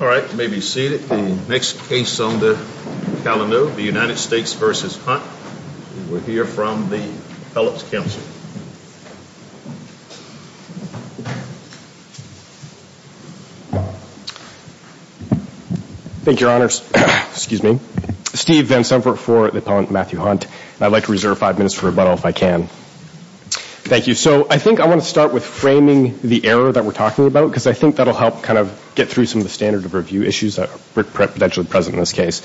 All right, you may be seated. The next case on the calendar, the United States v. Hunt. We'll hear from the Appellant's Counsel. Thank you, Your Honors. Excuse me. Steve Van Sempert for the Appellant Matthew Hunt. I'd like to reserve five minutes for rebuttal if I can. Thank you. So I think I want to start with framing the error that we're talking about because I think that'll help kind of get through some of the standard of review issues that are potentially present in this case.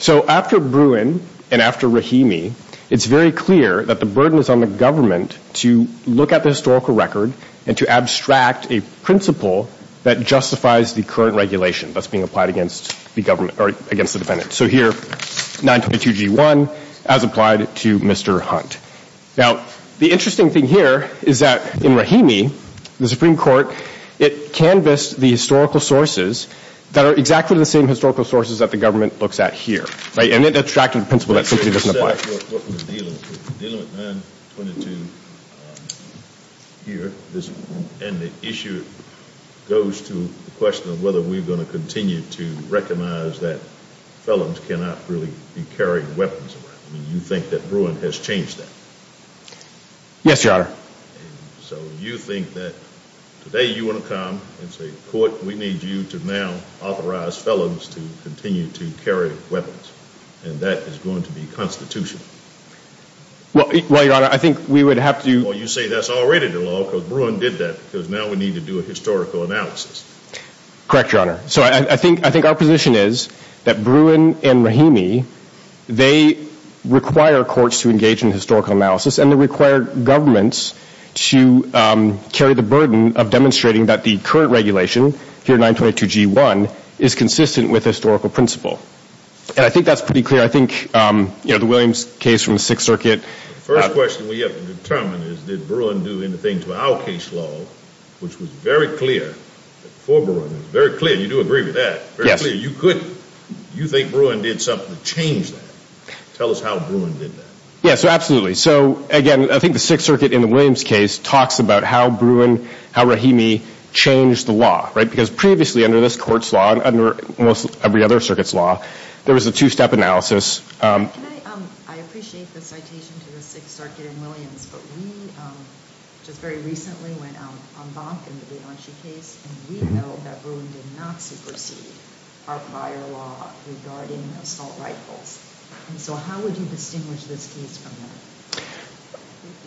So after Bruin and after Rahimi, it's very clear that the burden is on the government to look at the historical record and to abstract a principle that justifies the current regulation that's being applied against the defendant. So here, 922G1 as applied to Mr. Hunt. Now, the interesting thing here is that in Rahimi, the Supreme Court, it canvassed the historical sources that are exactly the same historical sources that the government looks at here. And it abstracted a principle that simply doesn't apply. What we're dealing with, we're dealing with 922 here. And the issue goes to the question of whether we're going to continue to recognize that felons cannot really be carrying weapons around. You think that Bruin has changed that? Yes, Your Honor. So you think that today you want to come and say, Court, we need you to now authorize felons to continue to carry weapons. And that is going to be constitutional? Well, Your Honor, I think we would have to... Well, you say that's already the law because Bruin did that because now we need to do a historical analysis. Correct, Your Honor. So I think our position is that Bruin and Rahimi, they require courts to engage in historical analysis and they require governments to carry the burden of demonstrating that the current regulation here, 922G1, is consistent with historical principle. And I think that's pretty clear. I think, you know, the Williams case from the Sixth Circuit... The first question we have to determine is did Bruin do anything to our case law, which was very clear for Bruin, very clear. You do agree with that. Yes. You think Bruin did something to change that. Tell us how Bruin did that. Yes, absolutely. So, again, I think the Sixth Circuit in the Williams case talks about how Bruin, how Rahimi changed the law, right? Because previously under this court's law and under almost every other circuit's law, there was a two-step analysis. I appreciate the citation to the Sixth Circuit in Williams, but we just very recently went out on Bonk in the Bianchi case and we know that Bruin did not supersede our prior law regarding assault rifles. So how would you distinguish this case from that?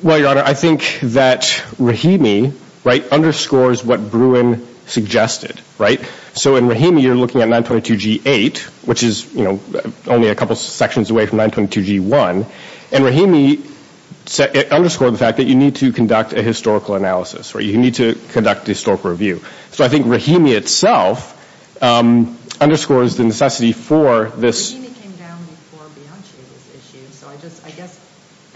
Well, Your Honor, I think that Rahimi, right, underscores what Bruin suggested, right? So in Rahimi, you're looking at 922G8, which is, you know, only a couple sections away from 922G1, and Rahimi underscored the fact that you need to conduct a historical analysis, right? You need to conduct a historical review. So I think Rahimi itself underscores the necessity for this... Rahimi came down before Bianchi in this issue, so I just, I guess,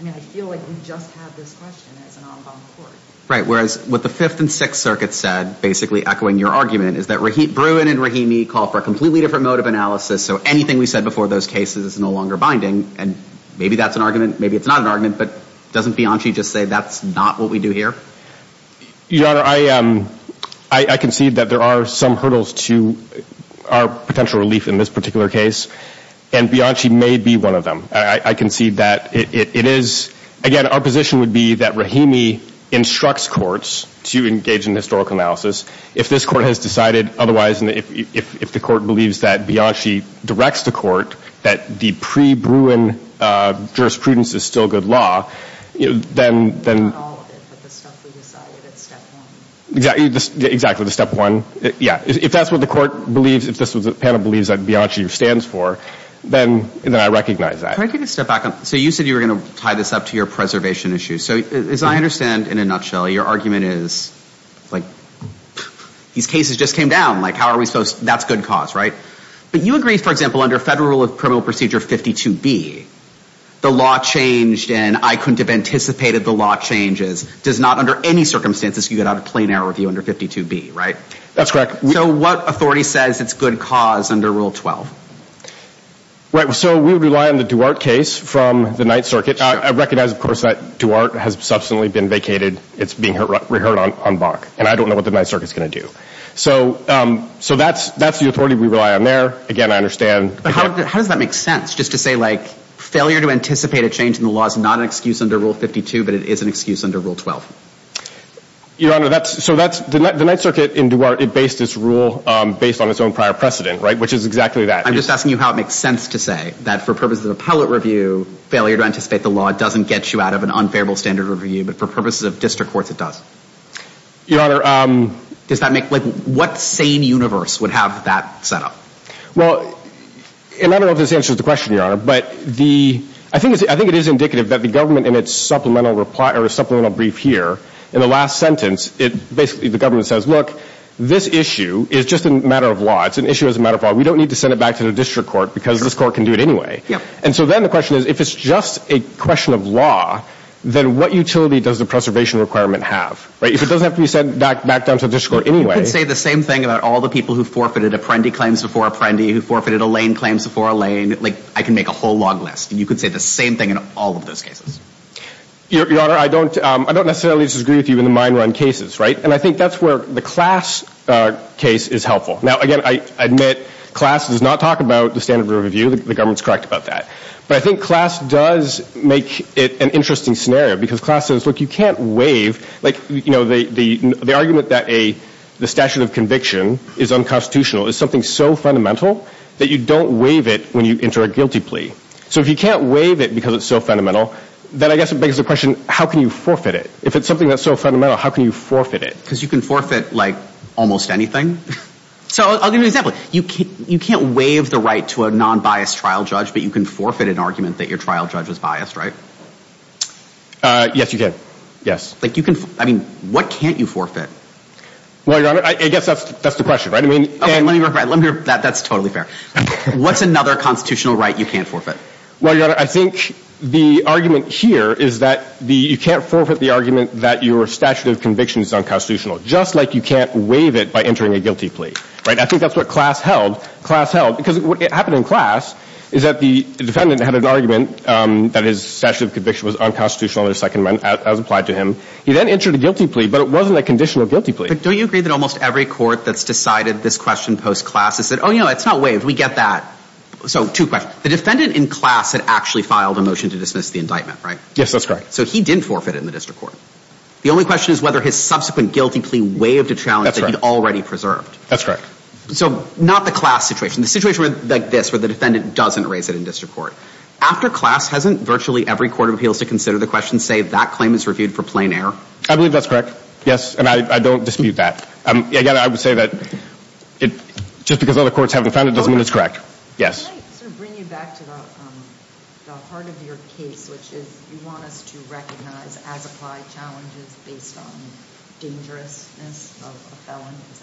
I mean, I feel like you just have this question as an en banc court. Right, whereas what the Fifth and Sixth Circuits said, basically echoing your argument, is that Bruin and Rahimi call for a completely different mode of analysis, so anything we said before those cases is no longer binding. And maybe that's an argument, maybe it's not an argument, but doesn't Bianchi just say that's not what we do here? Your Honor, I concede that there are some hurdles to our potential relief in this particular case, and Bianchi may be one of them. I concede that it is, again, our position would be that Rahimi instructs courts to engage in historical analysis. If this court has decided otherwise, and if the court believes that Bianchi directs the court, that the pre-Bruin jurisprudence is still good law, then... Not all of it, but the stuff we decided at step one. Exactly, the step one. Yeah, if that's what the court believes, if this is what the panel believes that Bianchi stands for, then I recognize that. Can I take a step back? So you said you were going to tie this up to your preservation issue. So as I understand, in a nutshell, your argument is, like, these cases just came down. Like, how are we supposed, that's good cause, right? But you agree, for example, under Federal Rule of Criminal Procedure 52B, the law changed and I couldn't have anticipated the law changes, does not under any circumstances get out of plain error review under 52B, right? That's correct. So what authority says it's good cause under Rule 12? Right, so we rely on the Duarte case from the Ninth Circuit. I recognize, of course, that Duarte has substantially been vacated. It's being reheard on Bach, and I don't know what the Ninth Circuit is going to do. So that's the authority we rely on there. Again, I understand... But how does that make sense? Just to say, like, failure to anticipate a change in the law is not an excuse under Rule 52, but it is an excuse under Rule 12. Your Honor, that's... So that's... The Ninth Circuit in Duarte, it based its rule based on its own prior precedent, right? Which is exactly that. I'm just asking you how it makes sense to say that for purposes of appellate review, failure to anticipate the law doesn't get you out of an unfavorable standard review, but for purposes of district courts it does. Your Honor... Does that make... Like, what sane universe would have that set up? Well, and I don't know if this answers the question, Your Honor, but I think it is indicative that the government in its supplemental brief here, in the last sentence, basically the government says, look, this issue is just a matter of law. It's an issue as a matter of law. We don't need to send it back to the district court because this court can do it anyway. And so then the question is, if it's just a question of law, then what utility does the preservation requirement have? If it doesn't have to be sent back down to the district court anyway... You could say the same thing about all the people who forfeited Apprendi claims before Apprendi, who forfeited Alain claims before Alain. Like, I can make a whole log list, and you could say the same thing in all of those cases. Your Honor, I don't necessarily disagree with you in the mine run cases, right? And I think that's where the class case is helpful. Now, again, I admit class does not talk about the standard of review. The government's correct about that. But I think class does make it an interesting scenario because class says, look, you can't waive... Like, you know, the argument that the statute of conviction is unconstitutional is something so fundamental that you don't waive it when you enter a guilty plea. So if you can't waive it because it's so fundamental, then I guess it begs the question, how can you forfeit it? If it's something that's so fundamental, how can you forfeit it? Because you can forfeit, like, almost anything. So I'll give you an example. You can't waive the right to a non-biased trial judge, but you can forfeit an argument that your trial judge was biased, right? Yes, you can. Yes. Like, you can... I mean, what can't you forfeit? Well, Your Honor, I guess that's the question, right? I mean... Okay, let me rephrase. That's totally fair. What's another constitutional right you can't forfeit? Well, Your Honor, I think the argument here is that you can't forfeit the argument that your statute of conviction is unconstitutional, just like you can't waive it by entering a guilty plea, right? I think that's what class held. Because what happened in class is that the defendant had an argument that his statute of conviction was unconstitutional in the Second Amendment, as applied to him. He then entered a guilty plea, but it wasn't a conditional guilty plea. But don't you agree that almost every court that's decided this question post-class has said, oh, you know, it's not waived. We get that. So, two questions. The defendant in class had actually filed a motion to dismiss the indictment, right? Yes, that's correct. So he didn't forfeit it in the district court. The only question is whether his subsequent guilty plea waived a challenge that he'd already preserved. That's correct. So, not the class situation. The situation like this, where the defendant doesn't raise it in district court. After class, hasn't virtually every court of appeals to consider the question say that claim is reviewed for plain error? I believe that's correct. Yes. And I don't dispute that. Again, I would say that just because other courts haven't found it doesn't mean it's correct. Yes. Can I sort of bring you back to the heart of your case, which is you want us to recognize as-applied challenges based on dangerousness of a felon? Is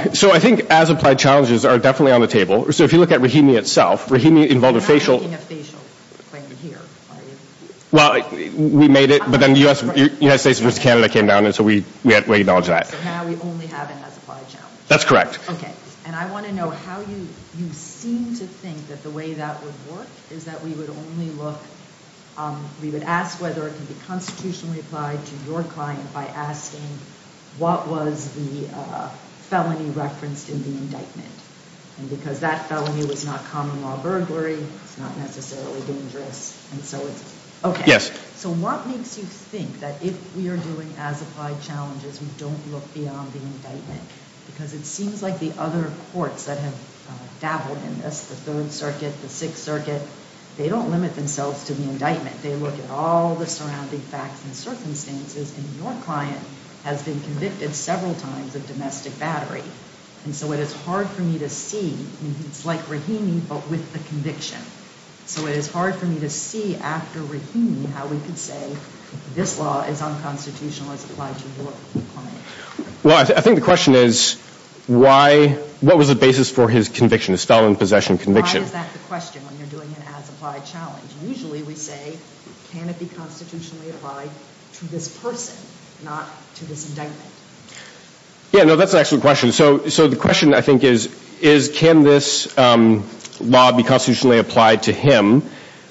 that right? So, I think as-applied challenges are definitely on the table. So, if you look at Rahimi itself, Rahimi involved a facial. You're not making a facial claim here, are you? Well, we made it, but then the United States versus Canada came down, and so we had to acknowledge that. So, now we only have an as-applied challenge. That's correct. Okay, and I want to know how you seem to think that the way that would work is that we would only look, we would ask whether it could be constitutionally applied to your client by asking what was the felony referenced in the indictment. And because that felony was not common law burglary, it's not necessarily dangerous, and so it's okay. Yes. So, what makes you think that if we are doing as-applied challenges, we don't look beyond the indictment? Because it seems like the other courts that have dabbled in this, the Third Circuit, the Sixth Circuit, they don't limit themselves to the indictment. They look at all the surrounding facts and circumstances, and your client has been convicted several times of domestic battery. And so, it is hard for me to see, and it's like Rahimi, but with the conviction. So, it is hard for me to see, after Rahimi, how we could say this law is unconstitutional as applied to your client. Well, I think the question is, what was the basis for his conviction, his felon possession conviction? Why is that the question when you're doing an as-applied challenge? Usually, we say, can it be constitutionally applied to this person, not to this indictment? Yeah, no, that's an excellent question. So, the question, I think, is, can this law be constitutionally applied to him,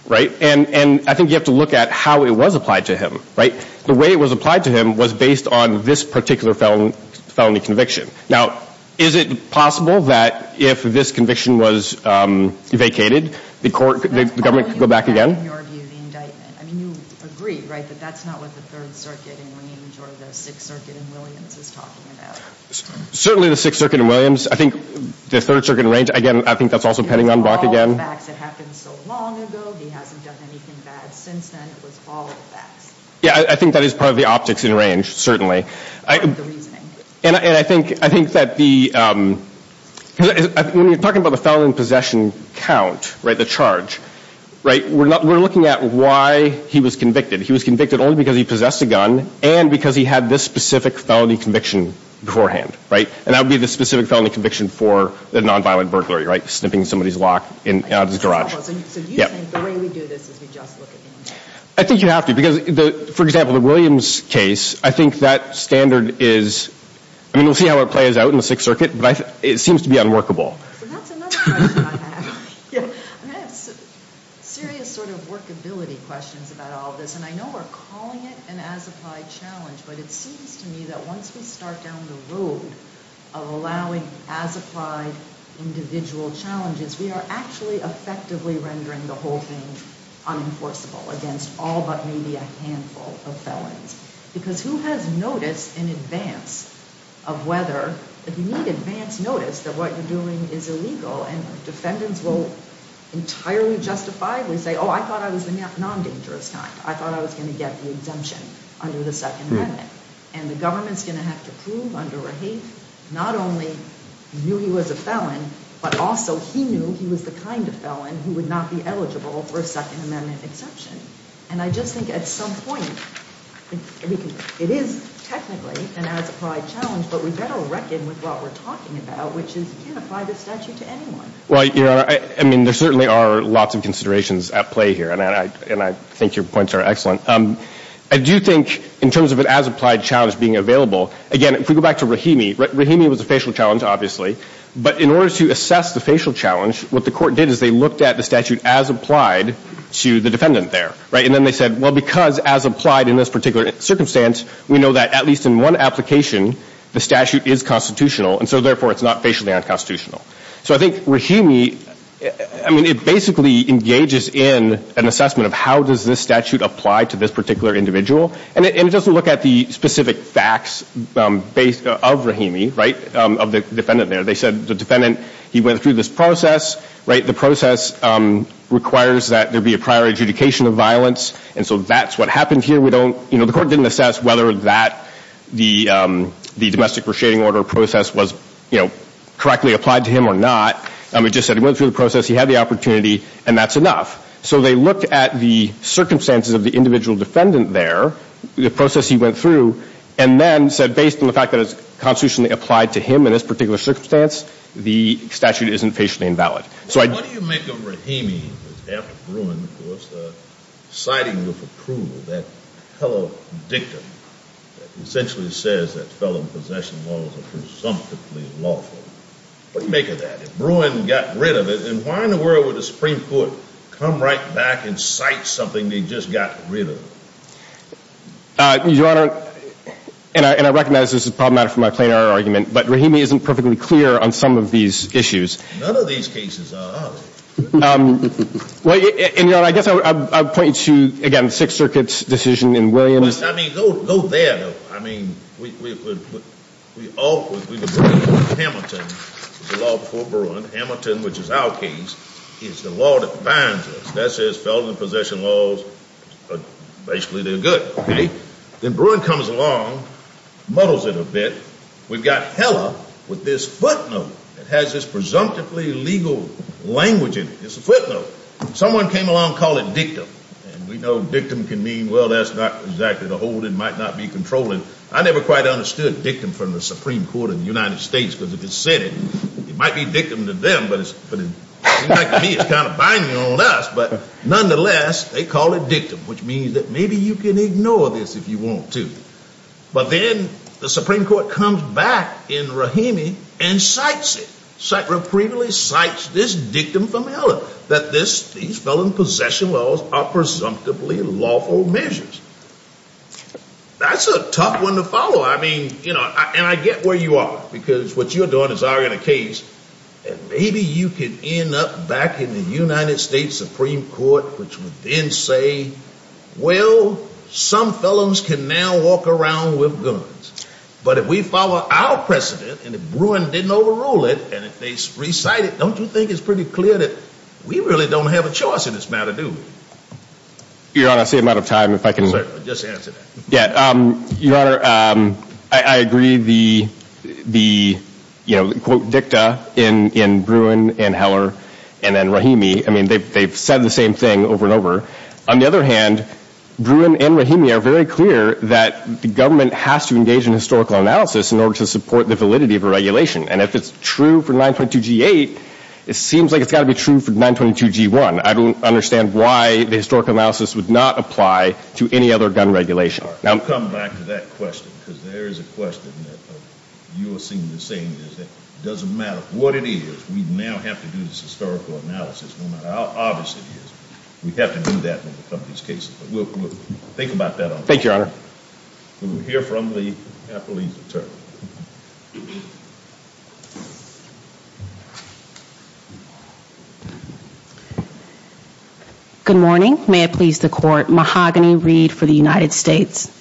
right? And I think you have to look at how it was applied to him, right? The way it was applied to him was based on this particular felony conviction. Now, is it possible that if this conviction was vacated, the government could go back again? That's calling back, in your view, the indictment. I mean, you agree, right, that that's not what the Third Circuit in Williams or the Sixth Circuit in Williams is talking about. Certainly, the Sixth Circuit in Williams. I think the Third Circuit in Williams, again, I think that's also pending on Bach again. It was all facts. It happened so long ago. He hasn't done anything bad since then. It was all the facts. Yeah, I think that is part of the optics in range, certainly. Part of the reasoning. And I think that the—when you're talking about the felon possession count, right, the charge, right, we're looking at why he was convicted. He was convicted only because he possessed a gun and because he had this specific felony conviction beforehand, right? And that would be the specific felony conviction for a nonviolent burglary, right, snipping somebody's lock out of his garage. So do you think the way we do this is we just look at the indictment? I think you have to because, for example, the Williams case, I think that standard is— I mean, we'll see how it plays out in the Sixth Circuit, but it seems to be unworkable. So that's another question I have. I have serious sort of workability questions about all of this, and I know we're calling it an as-applied challenge, but it seems to me that once we start down the road of allowing as-applied individual challenges, we are actually effectively rendering the whole thing unenforceable against all but maybe a handful of felons. Because who has notice in advance of whether— entirely justifiably say, oh, I thought I was the non-dangerous kind. I thought I was going to get the exemption under the Second Amendment. And the government's going to have to prove under a hate not only you knew he was a felon, but also he knew he was the kind of felon who would not be eligible for a Second Amendment exemption. And I just think at some point, it is technically an as-applied challenge, but we better reckon with what we're talking about, which is you can't apply this statute to anyone. Well, Your Honor, I mean, there certainly are lots of considerations at play here, and I think your points are excellent. I do think in terms of an as-applied challenge being available, again, if we go back to Rahimi, Rahimi was a facial challenge, obviously, but in order to assess the facial challenge, what the court did is they looked at the statute as applied to the defendant there, right? And then they said, well, because as applied in this particular circumstance, we know that at least in one application, the statute is constitutional, and so therefore it's not facially unconstitutional. So I think Rahimi, I mean, it basically engages in an assessment of how does this statute apply to this particular individual, and it doesn't look at the specific facts of Rahimi, right, of the defendant there. They said the defendant, he went through this process, right? The process requires that there be a prior adjudication of violence, and so that's what happened here. We don't, you know, the court didn't assess whether that the domestic reshading order process was, you know, correctly applied to him or not. We just said he went through the process, he had the opportunity, and that's enough. So they looked at the circumstances of the individual defendant there, the process he went through, and then said based on the fact that it's constitutionally applied to him in this particular circumstance, the statute isn't facially invalid. So what do you make of Rahimi after Bruin, of course, citing with approval that fellow victim that essentially says that felon possession laws are presumptively lawful? What do you make of that? If Bruin got rid of it, then why in the world would the Supreme Court come right back and cite something they just got rid of? Your Honor, and I recognize this is a problem matter for my plenary argument, but Rahimi isn't perfectly clear on some of these issues. None of these cases are, are they? Well, Your Honor, I guess I would point you to, again, Sixth Circuit's decision in Williams. I mean, go there, though. I mean, we all agree with Hamilton, the law before Bruin. Hamilton, which is our case, is the law that binds us. That says felon possession laws are basically they're good. Okay. Then Bruin comes along, muddles it a bit. We've got Heller with this footnote that has this presumptively legal language in it. It's a footnote. Someone came along and called it dictum. And we know dictum can mean, well, that's not exactly the hold it might not be controlling. I never quite understood dictum from the Supreme Court of the United States, because if it said it, it might be dictum to them, but it seems like to me it's kind of binding on us. But nonetheless, they call it dictum, which means that maybe you can ignore this if you want to. But then the Supreme Court comes back in Rahimi and cites it, cites this dictum from Heller that these felon possession laws are presumptively lawful measures. That's a tough one to follow. I mean, you know, and I get where you are, because what you're doing is arguing a case. And maybe you can end up back in the United States Supreme Court, which would then say, well, some felons can now walk around with guns. But if we follow our precedent, and if Bruin didn't overrule it, and if they recite it, don't you think it's pretty clear that we really don't have a choice in this matter, do we? Your Honor, I see I'm out of time. If I can just answer that. Yeah. Your Honor, I agree the, you know, the quote dicta in Bruin and Heller and then Rahimi, I mean, they've said the same thing over and over. On the other hand, Bruin and Rahimi are very clear that the government has to engage in historical analysis in order to support the validity of a regulation. And if it's true for 922G8, it seems like it's got to be true for 922G1. I don't understand why the historical analysis would not apply to any other gun regulation. I'll come back to that question, because there is a question that you are seeing the same. It doesn't matter what it is. We now have to do this historical analysis no matter how obvious it is. We have to do that in these cases. We'll think about that. Thank you, Your Honor. We'll hear from the police attorney. Good morning. May it please the court. Mahogany Reed for the United States.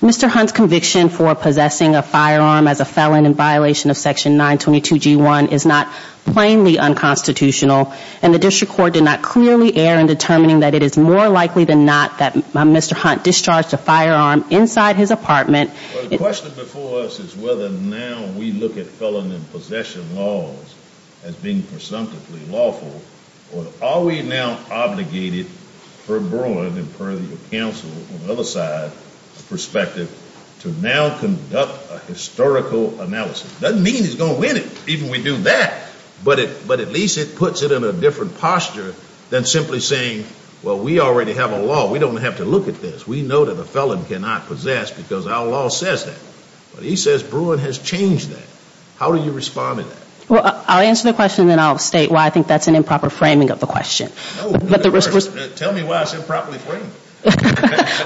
Mr. Hunt's conviction for possessing a firearm as a felon in violation of Section 922G1 is not plainly unconstitutional, and the district court did not clearly err in determining that it is more likely than not that Mr. Hunt discharged a firearm inside his apartment. Well, the question before us is whether now we look at felon in possession laws as being presumptively lawful, or are we now obligated for Bruin and per the counsel on the other side perspective to now conduct a historical analysis? It doesn't mean he's going to win it, even when we do that. But at least it puts it in a different posture than simply saying, well, we already have a law. We don't have to look at this. We know that a felon cannot possess because our law says that. But he says Bruin has changed that. How do you respond to that? Well, I'll answer the question, and then I'll state why I think that's an improper framing of the question. Tell me why it's improperly framed.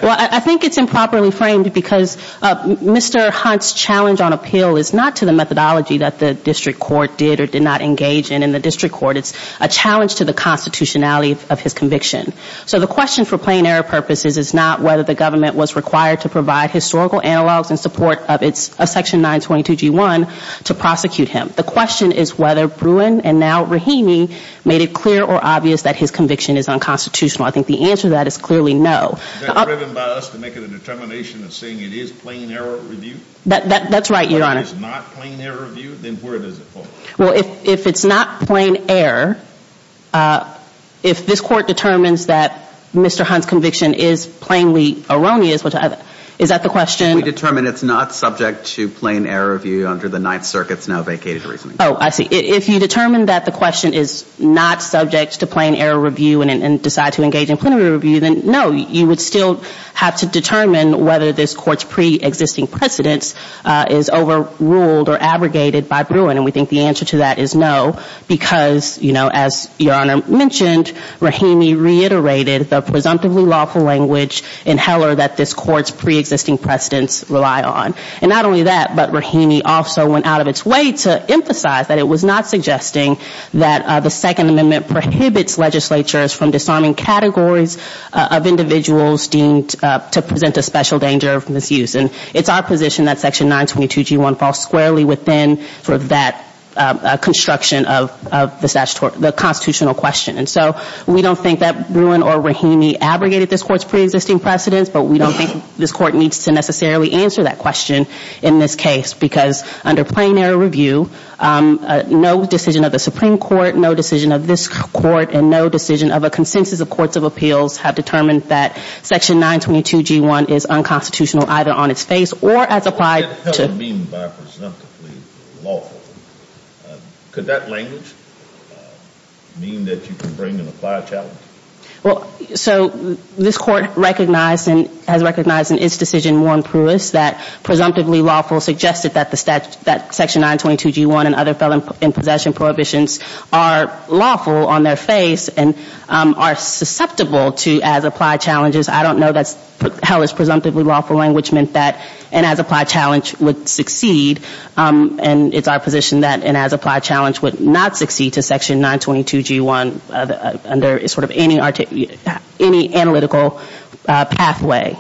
Well, I think it's improperly framed because Mr. Hunt's challenge on appeal is not to the methodology that the district court did or did not engage in. In the district court, it's a challenge to the constitutionality of his conviction. So the question for plain error purposes is not whether the government was required to provide historical analogs in support of Section 922G1 to prosecute him. The question is whether Bruin and now Rahimi made it clear or obvious that his conviction is unconstitutional. I think the answer to that is clearly no. Is that driven by us to make it a determination of saying it is plain error review? That's right, Your Honor. If it is not plain error review, then where does it fall? Well, if it's not plain error, if this court determines that Mr. Hunt's conviction is plainly erroneous, is that the question? We determine it's not subject to plain error review under the Ninth Circuit's now vacated reasoning. Oh, I see. If you determine that the question is not subject to plain error review and decide to engage in plenary review, then no, you would still have to determine whether this court's pre-existing precedents is overruled or abrogated by Bruin. And we think the answer to that is no because, you know, as Your Honor mentioned, Rahimi reiterated the presumptively lawful language in Heller that this court's pre-existing precedents rely on. And not only that, but Rahimi also went out of its way to emphasize that it was not suggesting that the Second Amendment prohibits legislatures from disarming categories of individuals deemed to present a special danger of misuse. And it's our position that Section 922G1 falls squarely within that construction of the constitutional question. And so we don't think that Bruin or Rahimi abrogated this court's pre-existing precedents, but we don't think this court needs to necessarily answer that question in this case because under plenary review, no decision of the Supreme Court, no decision of this court, and no decision of a consensus of courts of appeals have determined that Section 922G1 is unconstitutional either on its face or as applied to What the hell do you mean by presumptively lawful? Could that language mean that you can bring an applied challenge? Well, so this court has recognized in its decision Warren Pruess that presumptively lawful suggested that Section 922G1 and other felon in possession prohibitions are lawful on their face and are susceptible to as applied challenges. I don't know that's Heller's presumptively lawful language meant that an as applied challenge would succeed. And it's our position that an as applied challenge would not succeed to Section 922G1 under sort of any analytical pathway.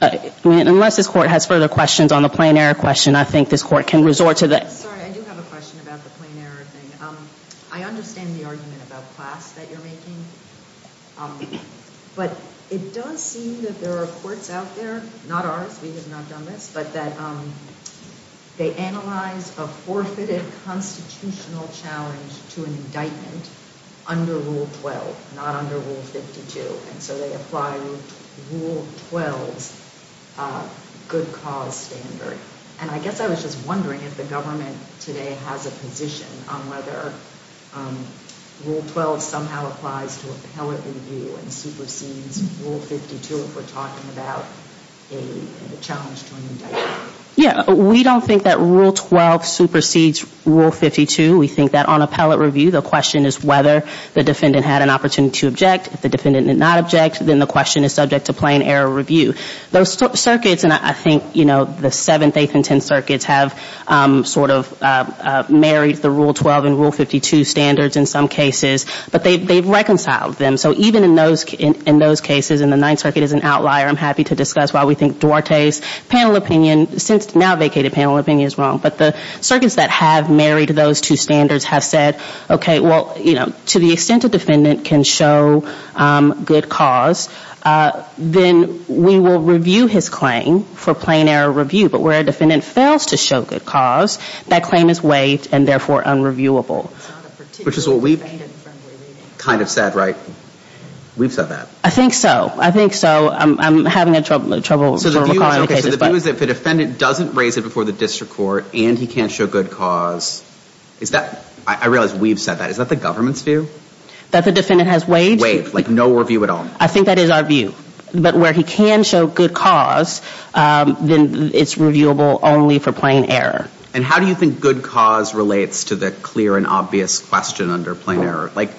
Unless this court has further questions on the plenary question, I think this court can resort to the Sorry, I do have a question about the plenary thing. I understand the argument about class that you're making, but it does seem that there are courts out there, not ours, we have not done this, but that they analyze a forfeited constitutional challenge to an indictment under Rule 12, not under Rule 52, and so they apply Rule 12's good cause standard. And I guess I was just wondering if the government today has a position on whether Rule 12 somehow applies to a challenge to an indictment. Yeah, we don't think that Rule 12 supersedes Rule 52. We think that on appellate review, the question is whether the defendant had an opportunity to object. If the defendant did not object, then the question is subject to plain error review. Those circuits, and I think, you know, the Seventh, Eighth, and Tenth Circuits have sort of married the Rule 12 and Rule 52 standards in some cases, but they've reconciled them. So even in those cases, and the Ninth Circuit is an outlier, I'm happy to discuss why we think Duarte's panel opinion, since now vacated panel opinion, is wrong. But the circuits that have married those two standards have said, okay, well, you know, to the extent a defendant can show good cause, then we will review his claim for plain error review. But where a defendant fails to show good cause, that claim is waived and therefore unreviewable. Which is what we've kind of said, right? We've said that. I think so. I think so. I'm having trouble. Okay, so the view is that if a defendant doesn't raise it before the district court and he can't show good cause, is that, I realize we've said that, is that the government's view? That the defendant has waived. Waived, like no review at all. I think that is our view. But where he can show good cause, then it's reviewable only for plain error. And how do you think good cause relates to the clear and obvious question under plain error? Like,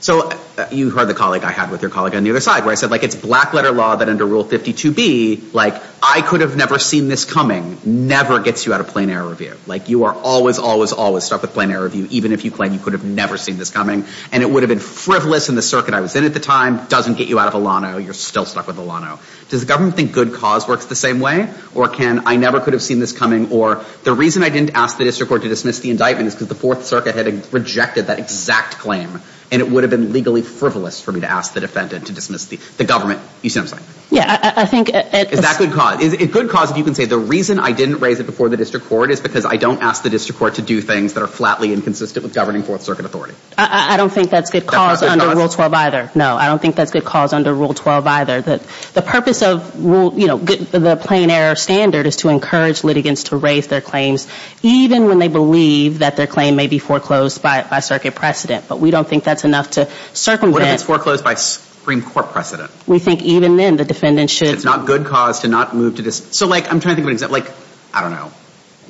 so you heard the colleague I had with your colleague on the other side, where I said, like, it's black letter law that under Rule 52B, like, I could have never seen this coming, never gets you out of plain error review. Like, you are always, always, always stuck with plain error review, even if you claim you could have never seen this coming. And it would have been frivolous in the circuit I was in at the time. Doesn't get you out of Alano. You're still stuck with Alano. Does the government think good cause works the same way? Or can, I never could have seen this coming, or the reason I didn't ask the district court to dismiss the indictment is because the Fourth Circuit had rejected that exact claim. And it would have been legally frivolous for me to ask the defendant to dismiss the government. You see what I'm saying? Yeah, I think it's... Is that good cause? Is it good cause if you can say the reason I didn't raise it before the district court is because I don't ask the district court to do things that are flatly inconsistent with governing Fourth Circuit authority? I don't think that's good cause under Rule 12 either. No, I don't think that's good cause under Rule 12 either. The purpose of, you know, the plain error standard is to encourage litigants to raise their claims even when they believe that their claim may be foreclosed by circuit precedent. But we don't think that's enough to circumvent... What if it's foreclosed by Supreme Court precedent? We think even then the defendant should... It's not good cause to not move to dismiss... So, like, I'm trying to think of an example. Like, I don't know,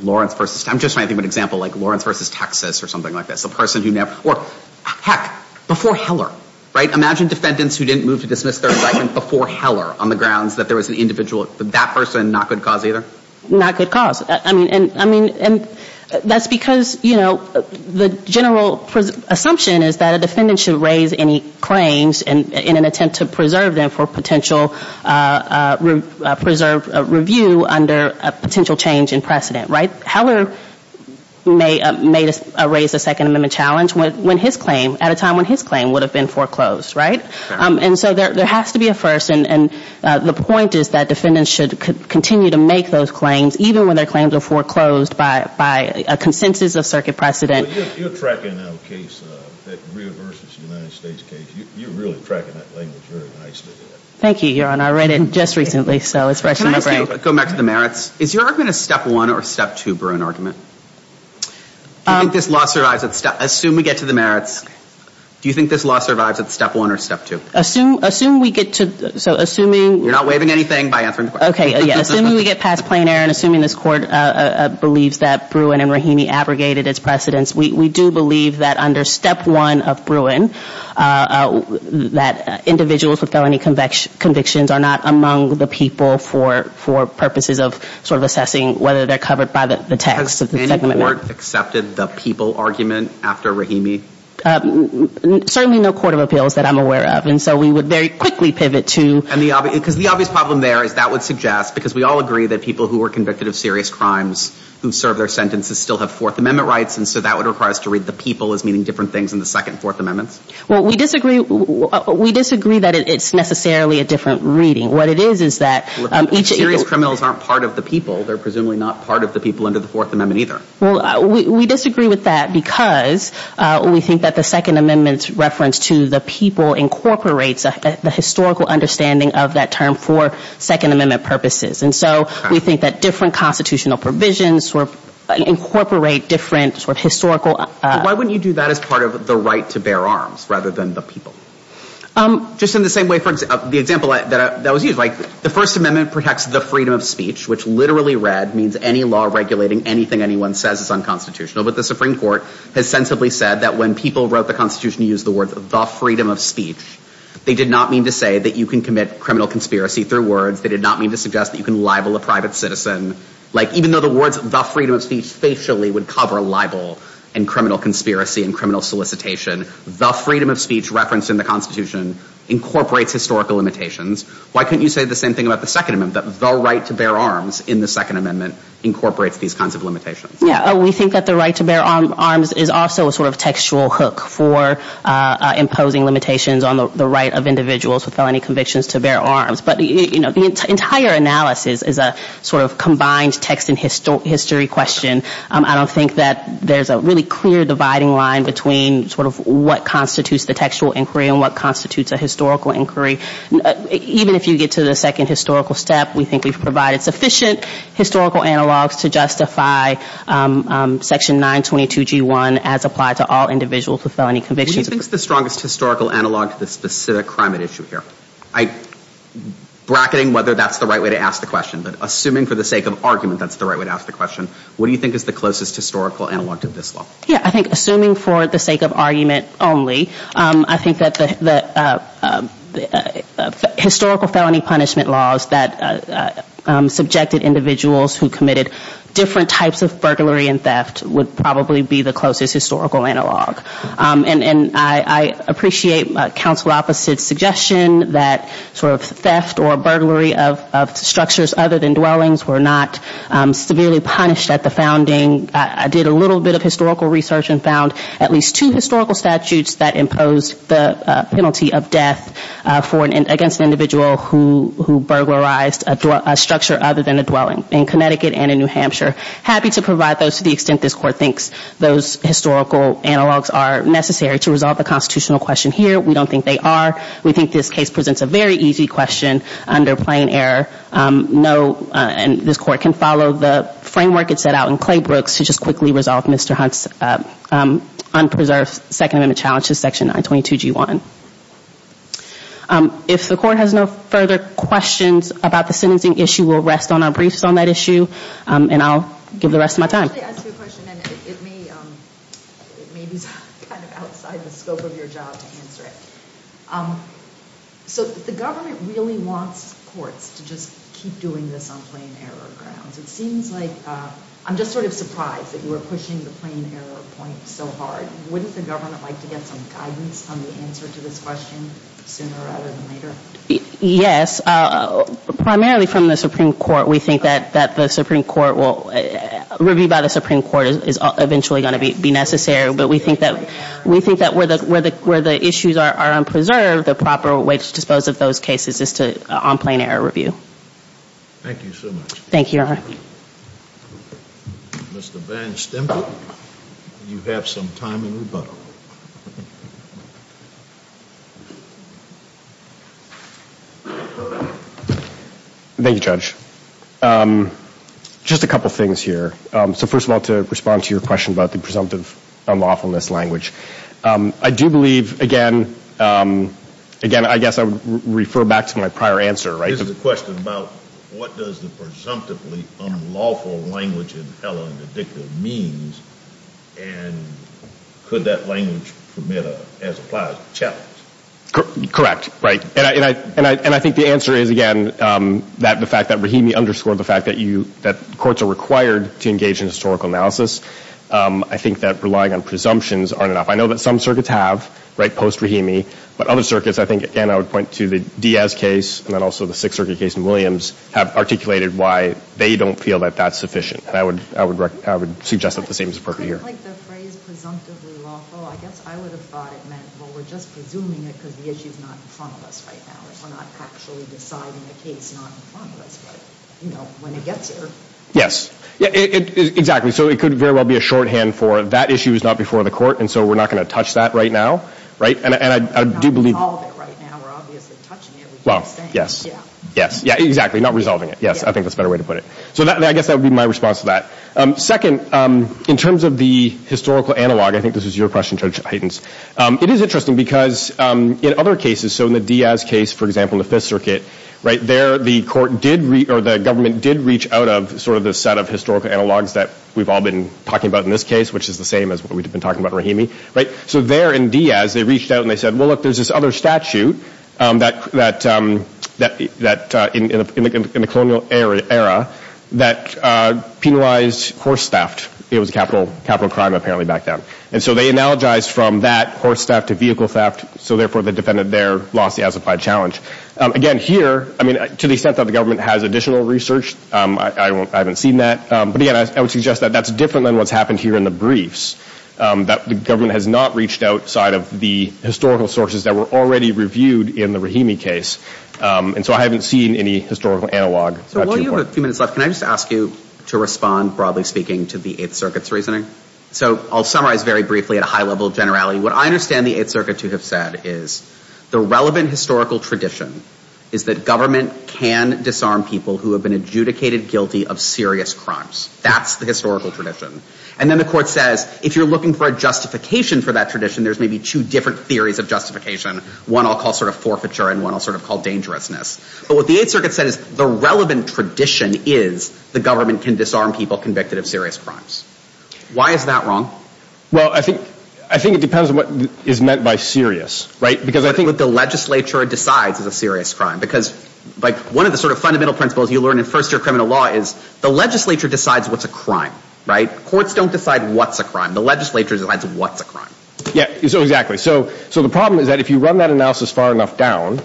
Lawrence versus... I'm just trying to think of an example like Lawrence versus Texas or something like this. A person who never... Or, heck, before Heller, right? Before Heller, on the grounds that there was an individual... That person, not good cause either? Not good cause. I mean, that's because, you know, the general assumption is that a defendant should raise any claims in an attempt to preserve them for potential... preserve review under a potential change in precedent, right? Heller may raise a Second Amendment challenge when his claim... at a time when his claim would have been foreclosed, right? And so there has to be a first, and the point is that defendants should continue to make those claims even when their claims are foreclosed by a consensus of circuit precedent. Well, you're tracking now a case that reaverses the United States case. You're really tracking that language very nicely. Thank you, Your Honor. I read it just recently, so it's fresh in my brain. Can I ask you to go back to the merits? Is your argument a Step 1 or a Step 2 Bruin argument? Do you think this law survives at Step... Assume we get to the merits. Do you think this law survives at Step 1 or Step 2? Assume we get to... So assuming... You're not waiving anything by answering the question. Okay, yeah. Assuming we get past plain error and assuming this Court believes that Bruin and Rahimi abrogated its precedents, we do believe that under Step 1 of Bruin that individuals with felony convictions are not among the people for purposes of sort of assessing whether they're covered by the text of the Second Amendment. Has the Court accepted the people argument after Rahimi? Certainly no court of appeals that I'm aware of, and so we would very quickly pivot to... Because the obvious problem there is that would suggest, because we all agree that people who were convicted of serious crimes who served their sentences still have Fourth Amendment rights, and so that would require us to read the people as meaning different things than the Second and Fourth Amendments. Well, we disagree that it's necessarily a different reading. What it is is that each... Serious criminals aren't part of the people. They're presumably not part of the people under the Fourth Amendment either. Well, we disagree with that because we think that the Second Amendment's reference to the people incorporates the historical understanding of that term for Second Amendment purposes, and so we think that different constitutional provisions incorporate different sort of historical... Why wouldn't you do that as part of the right to bear arms rather than the people? Just in the same way, for example, the example that was used, like the First Amendment protects the freedom of speech, which literally read means any law regulating anything anyone says is unconstitutional, but the Supreme Court has sensibly said that when people wrote the Constitution to use the words, the freedom of speech, they did not mean to say that you can commit criminal conspiracy through words. They did not mean to suggest that you can libel a private citizen. Like, even though the words, the freedom of speech, facially would cover libel and criminal conspiracy and criminal solicitation, the freedom of speech referenced in the Constitution incorporates historical limitations. Why couldn't you say the same thing about the Second Amendment, that the right to bear arms in the Second Amendment incorporates these kinds of limitations? Yeah, we think that the right to bear arms is also a sort of textual hook for imposing limitations on the right of individuals with felony convictions to bear arms, but the entire analysis is a sort of combined text and history question. I don't think that there's a really clear dividing line between sort of what constitutes the textual inquiry and what constitutes a historical inquiry. Even if you get to the second historical step, we think we've provided sufficient historical analogs to justify Section 922G1 as applied to all individuals with felony convictions. Who do you think is the strongest historical analog to this specific crime at issue here? I'm bracketing whether that's the right way to ask the question, but assuming for the sake of argument that's the right way to ask the question, what do you think is the closest historical analog to this law? Yeah, I think assuming for the sake of argument only, I think that the historical felony punishment laws that subjected individuals who committed different types of burglary and theft would probably be the closest historical analog. And I appreciate Counsel Opposite's suggestion that sort of theft or burglary of structures other than dwellings were not severely punished at the founding. I did a little bit of historical research and found at least two historical statutes that imposed the penalty of death against an individual who burglarized a structure other than a dwelling in Connecticut and in New Hampshire. Happy to provide those to the extent this Court thinks those historical analogs are necessary to resolve the constitutional question here. We don't think they are. We think this case presents a very easy question under plain error. This Court can follow the framework it set out in Claybrooks to just quickly resolve Mr. Hunt's unpreserved Second Amendment challenges, Section 922G1. If the Court has no further questions about the sentencing issue, we'll rest on our briefs on that issue, and I'll give the rest of my time. Let me ask you a question, and it may be kind of outside the scope of your job to answer it. So the government really wants courts to just keep doing this on plain error grounds. It seems like I'm just sort of surprised that you were pushing the plain error point so hard. Wouldn't the government like to get some guidance on the answer to this question sooner rather than later? Yes. Primarily from the Supreme Court, we think that the Supreme Court will review by the Supreme Court is eventually going to be necessary, but we think that where the issues are unpreserved, the proper way to dispose of those cases is to on plain error review. Thank you so much. Thank you, Your Honor. Mr. Van Stempel, you have some time in rebuttal. Thank you, Judge. Just a couple things here. So first of all, to respond to your question about the presumptive unlawfulness language, I do believe, again, I guess I would refer back to my prior answer, right? This is a question about what does the presumptively unlawful language in HELLA and ADDICTA means and could that language permit a, as applied, challenge? Correct. Right. And I think the answer is, again, that the fact that REHME underscored the fact that courts are required to engage in historical analysis, I think that relying on presumptions aren't enough. I know that some circuits have, right, post-REHME, but other circuits, I think, again, I would point to the Diaz case and then also the Sixth Circuit case in Williams, have articulated why they don't feel that that's sufficient. And I would suggest that the same is appropriate here. Couldn't, like, the phrase presumptively unlawful, I guess I would have thought it meant, well, we're just presuming it because the issue is not in front of us right now. We're not actually deciding the case, not in front of us, but, you know, when it gets here. Yes. Exactly. So it could very well be a shorthand for that issue is not before the court, and so we're not going to touch that right now, right? We're not resolving it right now. We're obviously touching it. Well, yes. Yes. Yeah, exactly. Not resolving it. Yes. I think that's a better way to put it. So I guess that would be my response to that. Second, in terms of the historical analog, I think this is your question, Judge Haydens. It is interesting because in other cases, so in the Diaz case, for example, in the Fifth Circuit, right, there the court did, or the government did reach out of sort of the set of historical analogs that we've all been talking about in this case, which is the same as what we've been talking about in REHME, right? So there in Diaz, they reached out and they said, well, look, there's this other statute in the colonial era that penalized horse theft. It was a capital crime apparently back then. And so they analogized from that horse theft to vehicle theft, so therefore the defendant there lost the as-applied challenge. Again, here, I mean, to the extent that the government has additional research, I haven't seen that. But again, I would suggest that that's different than what's happened here in the briefs, that the government has not reached outside of the historical sources that were already reviewed in the REHME case. And so I haven't seen any historical analog. So while you have a few minutes left, can I just ask you to respond, broadly speaking, to the Eighth Circuit's reasoning? So I'll summarize very briefly at a high level of generality. What I understand the Eighth Circuit to have said is the relevant historical tradition is that government can disarm people who have been adjudicated guilty of serious crimes. That's the historical tradition. And then the court says, if you're looking for a justification for that tradition, there's maybe two different theories of justification, one I'll call sort of forfeiture and one I'll sort of call dangerousness. But what the Eighth Circuit said is the relevant tradition is the government can disarm people convicted of serious crimes. Why is that wrong? Well, I think it depends on what is meant by serious, right? Because I think what the legislature decides is a serious crime. Because one of the sort of fundamental principles you learn in first-year criminal law is the legislature decides what's a crime, right? The courts don't decide what's a crime. The legislature decides what's a crime. Yeah, exactly. So the problem is that if you run that analysis far enough down,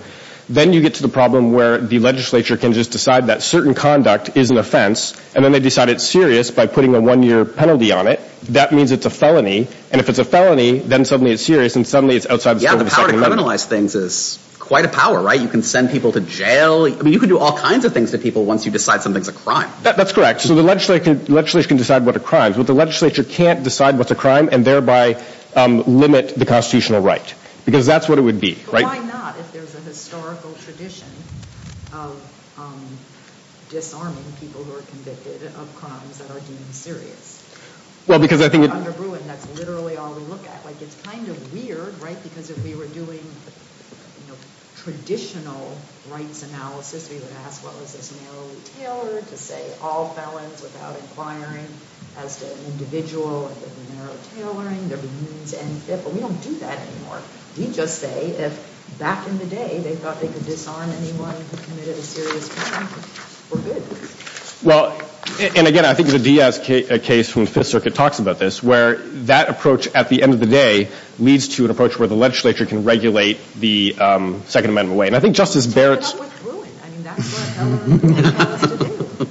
then you get to the problem where the legislature can just decide that certain conduct is an offense and then they decide it's serious by putting a one-year penalty on it. That means it's a felony. And if it's a felony, then suddenly it's serious and suddenly it's outside the scope of a second amendment. Yeah, the power to criminalize things is quite a power, right? You can send people to jail. I mean, you can do all kinds of things to people once you decide something's a crime. That's correct. So the legislature can decide what a crime is, but the legislature can't decide what's a crime and thereby limit the constitutional right because that's what it would be, right? But why not if there's a historical tradition of disarming people who are convicted of crimes that are deemed serious? Well, because I think— Under Bruin, that's literally all we look at. Like, it's kind of weird, right, because if we were doing traditional rights analysis, we would ask what was this narrowly tailored to say all felons without inquiring as to an individual, and there'd be narrow tailoring, there'd be means and fit, but we don't do that anymore. We just say if back in the day they thought they could disarm anyone who committed a serious crime, for good. Well, and again, I think the Diaz case from the Fifth Circuit talks about this, where that approach at the end of the day leads to an approach where the legislature can regulate the Second Amendment way. And I think Justice Barrett's— But that's not what's Bruin. I mean, that's what a felony court wants to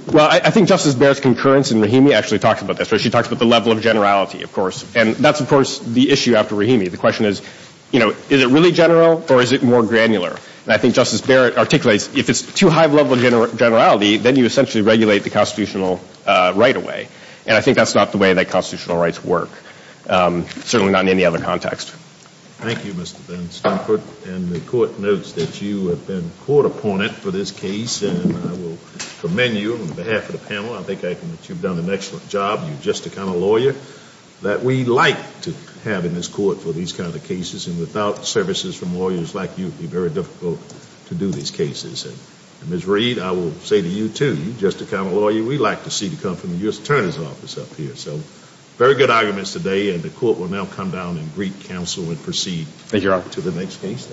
do. Well, I think Justice Barrett's concurrence in Rahimi actually talks about this, where she talks about the level of generality, of course, and that's, of course, the issue after Rahimi. The question is, you know, is it really general or is it more granular? And I think Justice Barrett articulates if it's too high of a level of generality, then you essentially regulate the constitutional right away, and I think that's not the way that constitutional rights work, certainly not in any other context. Thank you, Mr. Bernstein. And the Court notes that you have been court-opponent for this case, and I will commend you on behalf of the panel. I think you've done an excellent job. You're just the kind of lawyer that we like to have in this Court for these kind of cases, and without services from lawyers like you, it would be very difficult to do these cases. And, Ms. Reed, I will say to you, too, you're just the kind of lawyer we like to see come from the U.S. Attorney's Office up here. So, very good arguments today, and the Court will now come down and greet counsel and proceed— Thank you, Your Honor. —to the next case.